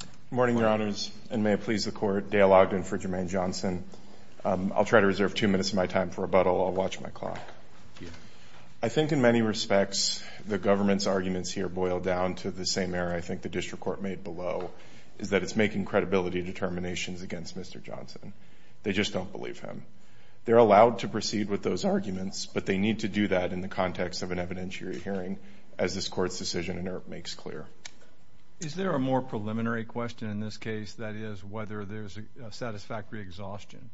Good morning, Your Honors, and may it please the Court, Dale Ogden for Jermaine Johnson. I'll try to reserve two minutes of my time for rebuttal. I'll watch my clock. I think in many respects the government's arguments here boil down to the same error I think the district court made below, is that it's making credibility determinations against Mr. Johnson. They just don't believe him. They're allowed to proceed with those arguments, but they need to do that in the context of an evidentiary hearing, as this Court's decision in EARP makes clear. Is there a more preliminary question in this case, that is, whether there's a satisfactory exhaustion?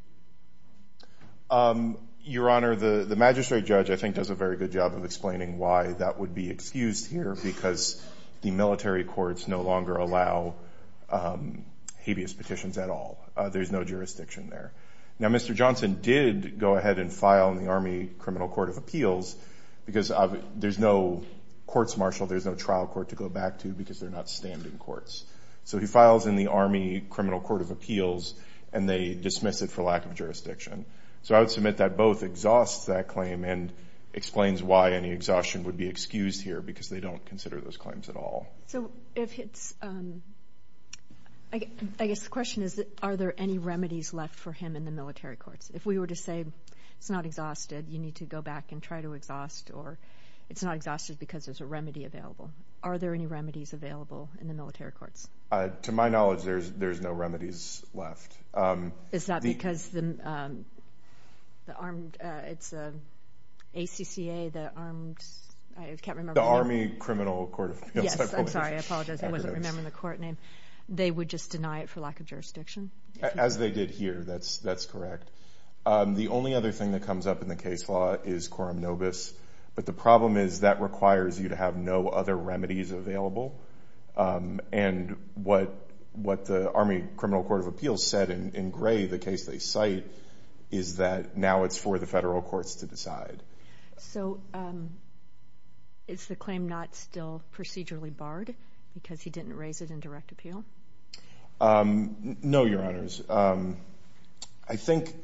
Your Honor, the magistrate judge I think does a very good job of explaining why that would be excused here, because the military courts no longer allow habeas petitions at all. There's no jurisdiction there. Now, Mr. Johnson did go ahead and file in the Army Criminal Court of Appeals, because there's no courts martial, there's no trial court to go back to, because they're not standing courts. So he files in the Army Criminal Court of Appeals, and they dismiss it for lack of jurisdiction. So I would submit that both exhausts that claim and explains why any exhaustion would be excused here, because they don't consider those claims at all. So if it's – I guess the question is, are there any remedies left for him in the military courts? If we were to say, it's not exhausted, you need to go back and try to exhaust, or it's not exhausted because there's a remedy available. Are there any remedies available in the military courts? To my knowledge, there's no remedies left. Is that because the armed – it's ACCA, the armed – I can't remember. The Army Criminal Court of Appeals. Yes, I'm sorry. I apologize. I wasn't remembering the court name. They would just deny it for lack of jurisdiction? As they did here, that's correct. The only other thing that comes up in the case law is quorum nobis, but the problem is that requires you to have no other remedies available. And what the Army Criminal Court of Appeals said in gray, the case they cite, is that now it's for the federal courts to decide. So is the claim not still procedurally barred because he didn't raise it in direct appeal? No, Your Honors. I think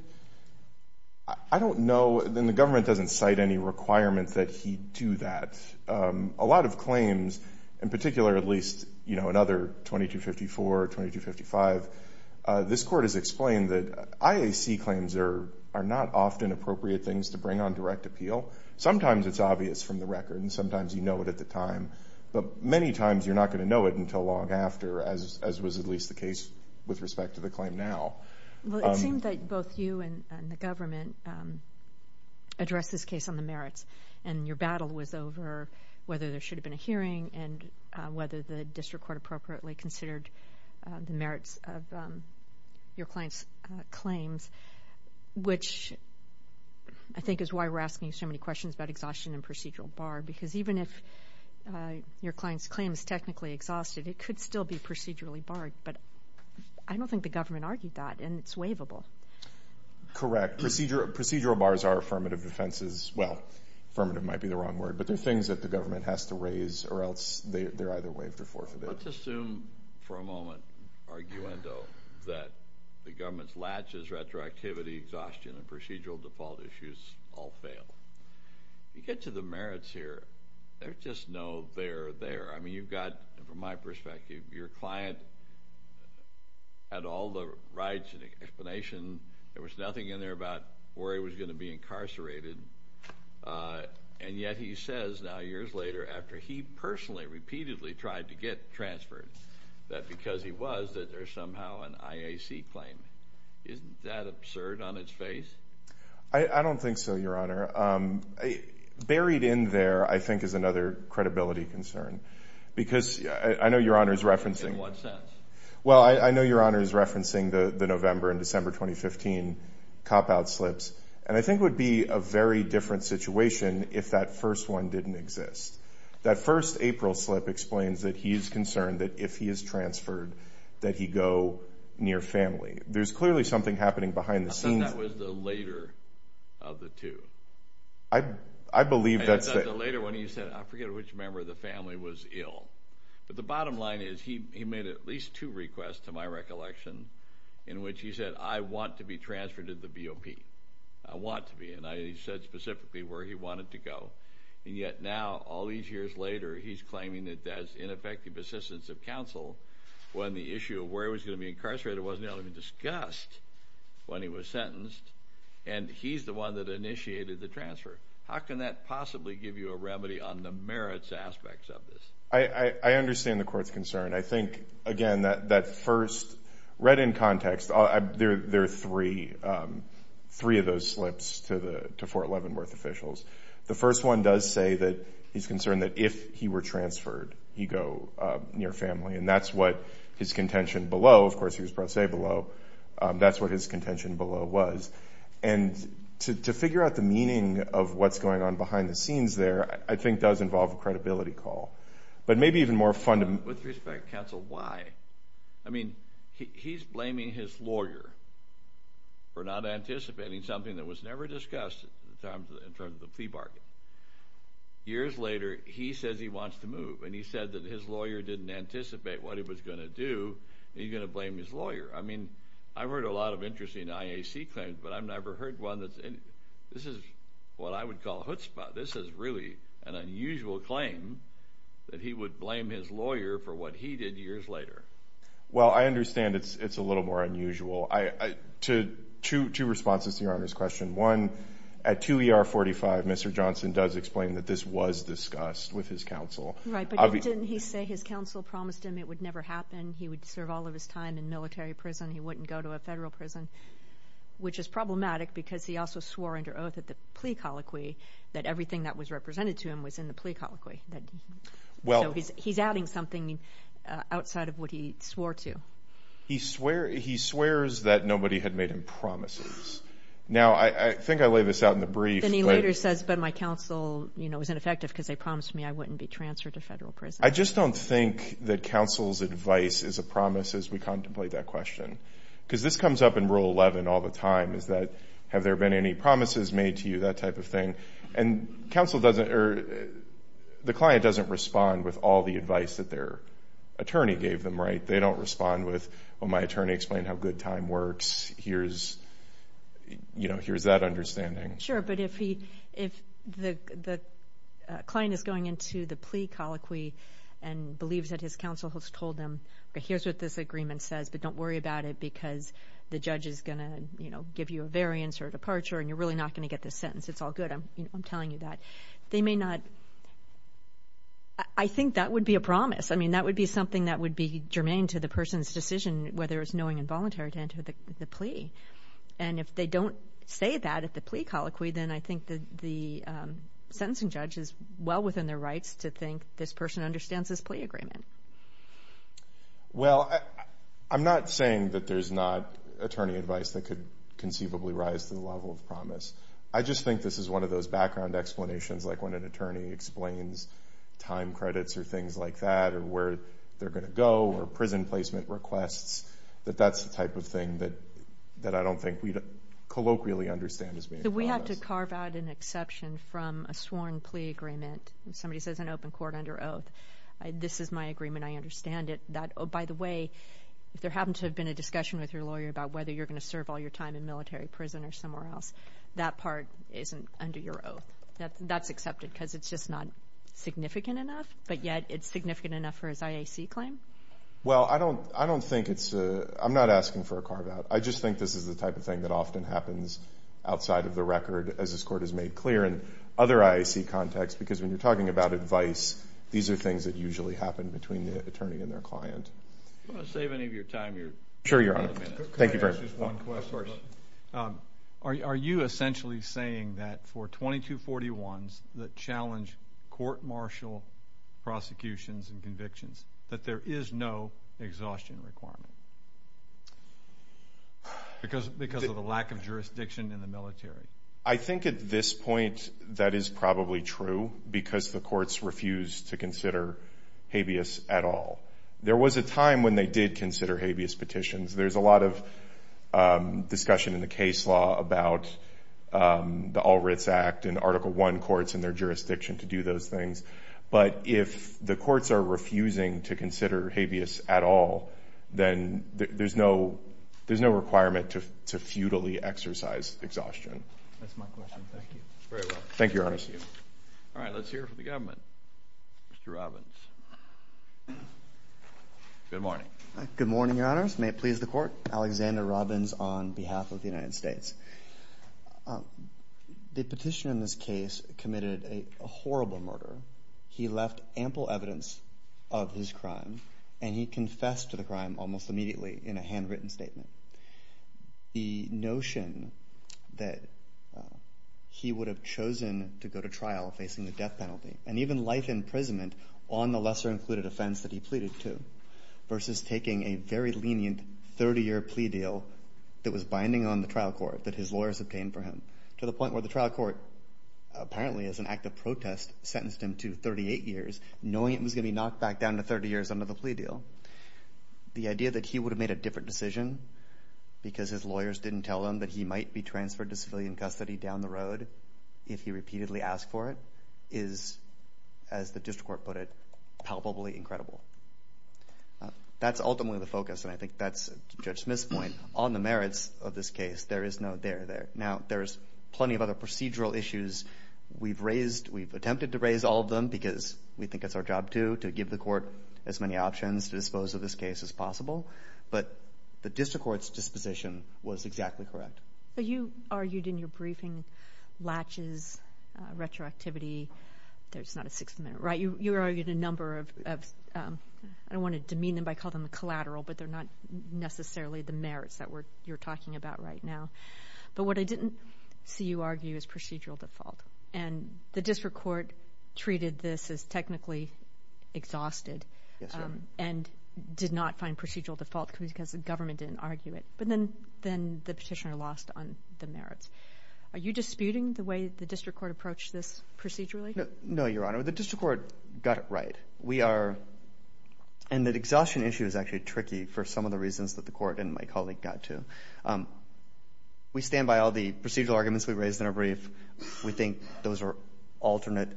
– I don't know, and the government doesn't cite any requirement that he do that. A lot of claims, in particular at least, you know, another 2254, 2255, this court has explained that IAC claims are not often appropriate things to bring on direct appeal. Sometimes it's obvious from the record, and sometimes you know it at the time. But many times you're not going to know it until long after, as was at least the case with respect to the claim now. Well, it seems that both you and the government addressed this case on the merits, and your battle was over whether there should have been a hearing and whether the district court appropriately considered the merits of your client's claims, which I think is why we're asking so many questions about exhaustion and procedural bar because even if your client's claim is technically exhausted, it could still be procedurally barred. But I don't think the government argued that, and it's waivable. Correct. Procedural bars are affirmative defenses. Well, affirmative might be the wrong word, but they're things that the government has to raise or else they're either waived or forfeited. Let's assume for a moment, arguendo, that the government's latches, retroactivity, exhaustion, and procedural default issues all fail. You get to the merits here, there's just no there or there. I mean, you've got, from my perspective, your client had all the rights and explanation. There was nothing in there about where he was going to be incarcerated, and yet he says now years later after he personally repeatedly tried to get transferred that because he was that there's somehow an IAC claim. Isn't that absurd on its face? I don't think so, Your Honor. Buried in there, I think, is another credibility concern because I know Your Honor is referencing. In what sense? Well, I know Your Honor is referencing the November and December 2015 cop-out slips, and I think it would be a very different situation if that first one didn't exist. That first April slip explains that he is concerned that if he is transferred that he go near family. There's clearly something happening behind the scenes. I thought that was the later of the two. I believe that's the— I thought the later one you said, I forget which member of the family was ill. But the bottom line is he made at least two requests to my recollection in which he said, I want to be transferred to the BOP. I want to be. And he said specifically where he wanted to go. And yet now all these years later he's claiming that that's ineffective assistance of counsel when the issue of where he was going to be incarcerated wasn't even discussed when he was sentenced, and he's the one that initiated the transfer. How can that possibly give you a remedy on the merits aspects of this? I understand the court's concern. I think, again, that first read in context, there are three of those slips to Fort Leavenworth officials. The first one does say that he's concerned that if he were transferred he go near family, and that's what his contention below, of course he was brought to say below, that's what his contention below was. And to figure out the meaning of what's going on behind the scenes there I think does involve a credibility call. But maybe even more fundamental. With respect, counsel, why? I mean, he's blaming his lawyer for not anticipating something that was never discussed in terms of the fee bargain. Years later he says he wants to move, and he said that his lawyer didn't anticipate what he was going to do, and he's going to blame his lawyer. I mean, I've heard a lot of interesting IAC claims, but I've never heard one that's anything. This is what I would call a hootspot. This is really an unusual claim that he would blame his lawyer for what he did years later. Well, I understand it's a little more unusual. Two responses to Your Honor's question. One, at 2 ER 45 Mr. Johnson does explain that this was discussed with his counsel. Right, but didn't he say his counsel promised him it would never happen, he would serve all of his time in military prison, he wouldn't go to a federal prison, which is problematic because he also swore under oath at the plea colloquy that everything that was represented to him was in the plea colloquy. So he's adding something outside of what he swore to. He swears that nobody had made him promises. Now, I think I laid this out in the brief. Then he later says, but my counsel was ineffective because they promised me I wouldn't be transferred to federal prison. I just don't think that counsel's advice is a promise as we contemplate that question because this comes up in Rule 11 all the time is that have there been any promises made to you, that type of thing, and the client doesn't respond with all the advice that their attorney gave them, right? They don't respond with, well, my attorney explained how good time works. Here's that understanding. Sure, but if the client is going into the plea colloquy and believes that his counsel has told him, okay, here's what this agreement says, but don't worry about it because the judge is going to give you a variance or a departure and you're really not going to get this sentence. It's all good. I'm telling you that. They may not. I think that would be a promise. I mean, that would be something that would be germane to the person's decision, whether it's knowing and voluntary to enter the plea. And if they don't say that at the plea colloquy, then I think the sentencing judge is well within their rights to think this person understands this plea agreement. Well, I'm not saying that there's not attorney advice that could conceivably rise to the level of promise. I just think this is one of those background explanations, like when an attorney explains time credits or things like that or where they're going to go or prison placement requests, that that's the type of thing that I don't think we colloquially understand as being a promise. We have to carve out an exception from a sworn plea agreement. Somebody says an open court under oath. This is my agreement. I understand it. By the way, if there happens to have been a discussion with your lawyer about whether you're going to serve all your time in military prison or somewhere else, that part isn't under your oath. That's accepted because it's just not significant enough, but yet it's significant enough for his IAC claim. Well, I don't think it's a – I'm not asking for a carve out. I just think this is the type of thing that often happens outside of the record, as this court has made clear in other IAC contexts, because when you're talking about advice, these are things that usually happen between the attorney and their client. Do you want to save any of your time here? Sure, Your Honor. Thank you very much. Can I ask just one question? Of course. Are you essentially saying that for 2241s that challenge court martial prosecutions and convictions, that there is no exhaustion requirement because of the lack of jurisdiction in the military? I think at this point that is probably true because the courts refused to consider habeas at all. There was a time when they did consider habeas petitions. There's a lot of discussion in the case law about the All Writs Act and Article I courts and their jurisdiction to do those things. But if the courts are refusing to consider habeas at all, then there's no requirement to futilely exercise exhaustion. That's my question. Thank you. Thank you, Your Honor. All right, let's hear from the government. Mr. Robbins. Good morning. Good morning, Your Honors. May it please the Court. Alexander Robbins on behalf of the United States. The petitioner in this case committed a horrible murder. He left ample evidence of his crime, and he confessed to the crime almost immediately in a handwritten statement. The notion that he would have chosen to go to trial facing the death penalty and even life imprisonment on the lesser-included offense that he pleaded to versus taking a very lenient 30-year plea deal that was binding on the trial court that his lawyers obtained for him to the point where the trial court, apparently as an act of protest, sentenced him to 38 years, knowing it was going to be knocked back down to 30 years under the plea deal. The idea that he would have made a different decision because his lawyers didn't tell him that he might be transferred to civilian custody down the road if he repeatedly asked for it is, as the district court put it, palpably incredible. That's ultimately the focus, and I think that's Judge Smith's point. On the merits of this case, there is no there. Now, there's plenty of other procedural issues. We've raised, we've attempted to raise all of them because we think it's our job, too, to give the court as many options to dispose of this case as possible, but the district court's disposition was exactly correct. You argued in your briefing, latches, retroactivity, there's not a sixth amendment, right? You argued a number of, I don't want to demean them by calling them collateral, but they're not necessarily the merits that you're talking about right now. But what I didn't see you argue is procedural default, and the district court treated this as technically exhausted and did not find procedural default because the government didn't argue it. But then the petitioner lost on the merits. Are you disputing the way the district court approached this procedurally? No, Your Honor. The district court got it right. We stand by all the procedural arguments we raised in our brief. We think those are alternate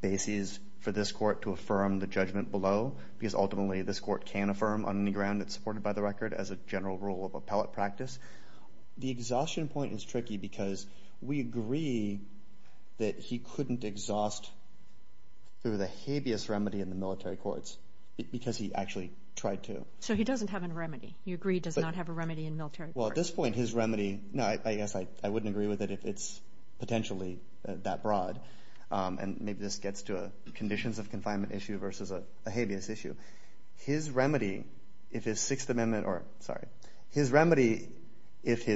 bases for this court to affirm the judgment below because ultimately this court can affirm on any ground that's supported by the record as a general rule of appellate practice. The exhaustion point is tricky because we agree that he couldn't exhaust through the habeas remedy in the military courts because he actually tried to. So he doesn't have a remedy. You agree he does not have a remedy in military courts. Well, at this point, his remedy, no, I guess I wouldn't agree with it if it's potentially that broad. And maybe this gets to a conditions of confinement issue versus a habeas issue. His remedy, if his Sixth Amendment or, sorry, his remedy, if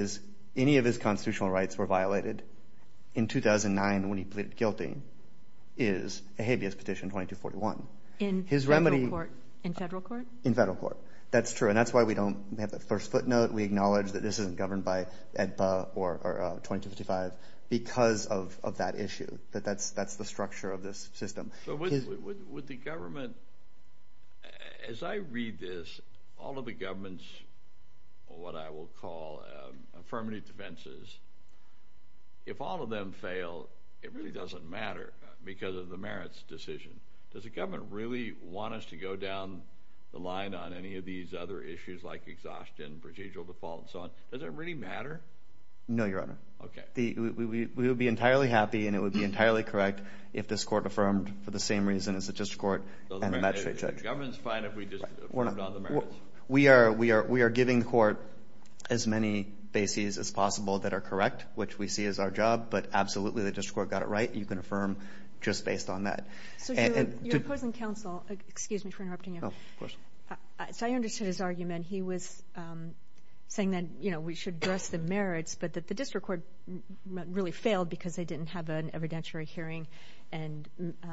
any of his constitutional rights were violated in 2009 when he pleaded guilty, is a habeas petition 2241. In federal court? In federal court. That's true, and that's why we don't have that first footnote. We acknowledge that this isn't governed by EDPA or 2255 because of that issue, that that's the structure of this system. Would the government, as I read this, all of the government's, what I will call affirmative defenses, if all of them fail, it really doesn't matter because of the merits decision. Does the government really want us to go down the line on any of these other issues like exhaustion, procedural default, and so on? Does it really matter? No, Your Honor. Okay. We would be entirely happy and it would be entirely correct if this court affirmed for the same reason as the district court and the magistrate judge. So the government is fine if we just affirmed on the merits? We are giving the court as many bases as possible that are correct, which we see as our job, but absolutely the district court got it right. You can affirm just based on that. So you're opposing counsel. Excuse me for interrupting you. No, of course. So I understood his argument. He was saying that we should address the merits, but that the district court really failed because they didn't have an evidentiary hearing and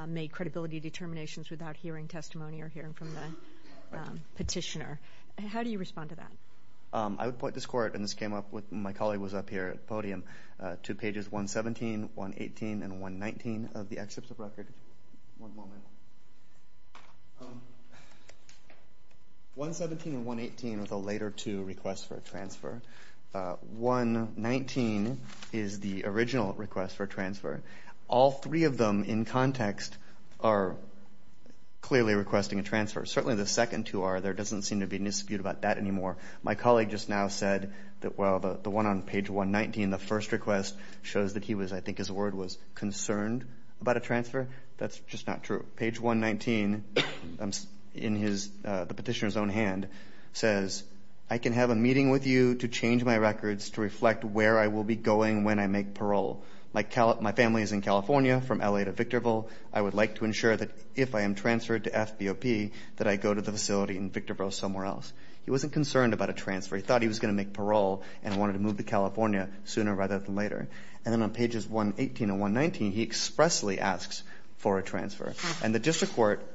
made credibility determinations without hearing testimony or hearing from the petitioner. How do you respond to that? Two pages, 117, 118, and 119 of the excerpts of record. One moment. 117 and 118 are the later two requests for a transfer. 119 is the original request for a transfer. All three of them in context are clearly requesting a transfer. Certainly the second two are. There doesn't seem to be any dispute about that anymore. My colleague just now said that, well, the one on page 119, the first request shows that he was, I think his word was, concerned about a transfer. That's just not true. Page 119 in the petitioner's own hand says, I can have a meeting with you to change my records to reflect where I will be going when I make parole. My family is in California from L.A. to Victorville. I would like to ensure that if I am transferred to FBOP that I go to the facility in Victorville somewhere else. He wasn't concerned about a transfer. He thought he was going to make parole and wanted to move to California sooner rather than later. And then on pages 118 and 119, he expressly asks for a transfer. And the district court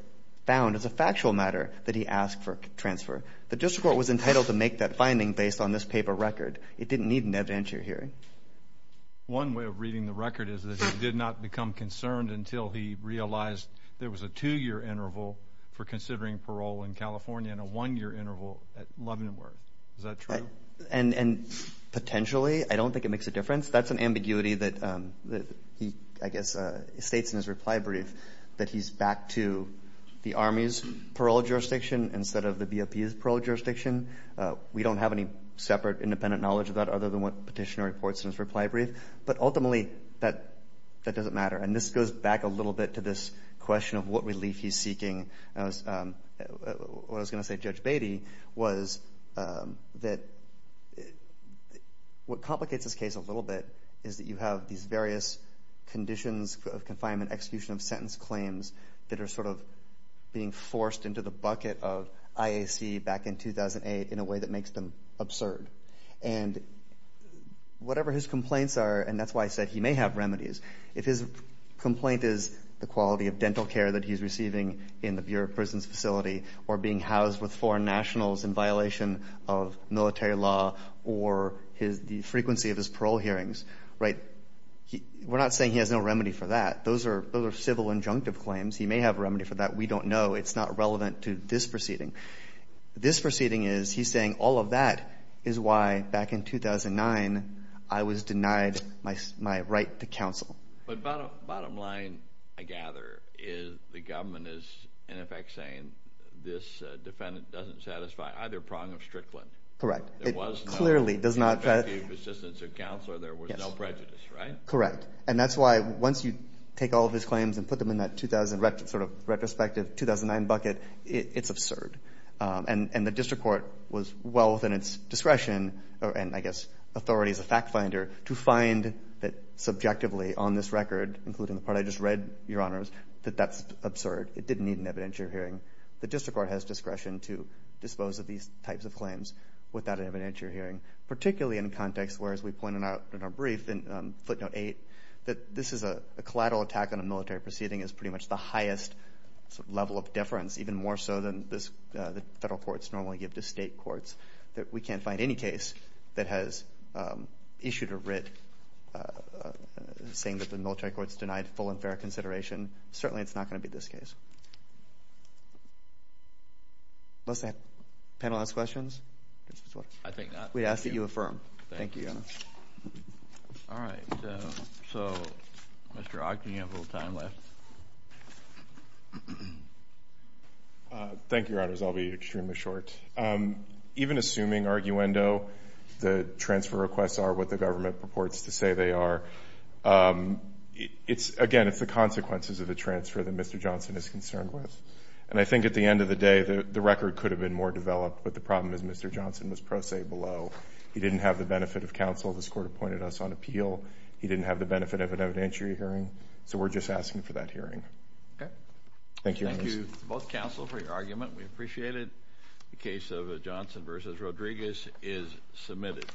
found as a factual matter that he asked for a transfer. The district court was entitled to make that finding based on this paper record. It didn't need an evidentiary hearing. One way of reading the record is that he did not become concerned until he realized there was a two-year interval for considering parole in California and a one-year interval at Leavenworth. Is that true? And potentially, I don't think it makes a difference. That's an ambiguity that he, I guess, states in his reply brief, that he's back to the Army's parole jurisdiction instead of the BOP's parole jurisdiction. We don't have any separate independent knowledge of that other than what the petitioner reports in his reply brief. But ultimately, that doesn't matter. And this goes back a little bit to this question of what relief he's seeking. What I was going to say to Judge Beatty was that what complicates this case a little bit is that you have these various conditions of confinement, execution of sentence claims that are sort of being forced into the bucket of IAC back in 2008 in a way that makes them absurd. And whatever his complaints are, and that's why I said he may have remedies, if his complaint is the quality of dental care that he's receiving in the Bureau of Prisons facility or being housed with foreign nationals in violation of military law or the frequency of his parole hearings, right, we're not saying he has no remedy for that. Those are civil injunctive claims. He may have a remedy for that. We don't know. It's not relevant to this proceeding. This proceeding is he's saying all of that is why, back in 2009, I was denied my right to counsel. But bottom line, I gather, is the government is, in effect, saying this defendant doesn't satisfy either prong of Strickland. Correct. It clearly does not. It was no effective assistance of counsel or there was no prejudice, right? Correct. And that's why once you take all of his claims and put them in that sort of retrospective 2009 bucket, it's absurd. And the district court was well within its discretion, and I guess authority is a fact finder, to find that subjectively on this record, including the part I just read, Your Honors, that that's absurd. It didn't need an evidentiary hearing. The district court has discretion to dispose of these types of claims without an evidentiary hearing, particularly in context where, as we pointed out in our brief in footnote 8, that this is a collateral attack on a military proceeding is pretty much the courts normally give to state courts. We can't find any case that has issued a writ saying that the military court has denied full and fair consideration. Certainly it's not going to be this case. Unless the panel has questions? I think not. We ask that you affirm. Thank you, Your Honor. All right. So, Mr. Ogden, you have a little time left. Thank you, Your Honors. I'll be extremely short. Even assuming, arguendo, the transfer requests are what the government purports to say they are, again, it's the consequences of the transfer that Mr. Johnson is concerned with. And I think at the end of the day, the record could have been more developed, but the problem is Mr. Johnson was pro se below. He didn't have the benefit of counsel. This court appointed us on appeal. He didn't have the benefit of an evidentiary hearing. So we're just asking for that hearing. Okay. Thank you. Thank you, both counsel, for your argument. We appreciate it. The case of Johnson v. Rodriguez is submitted.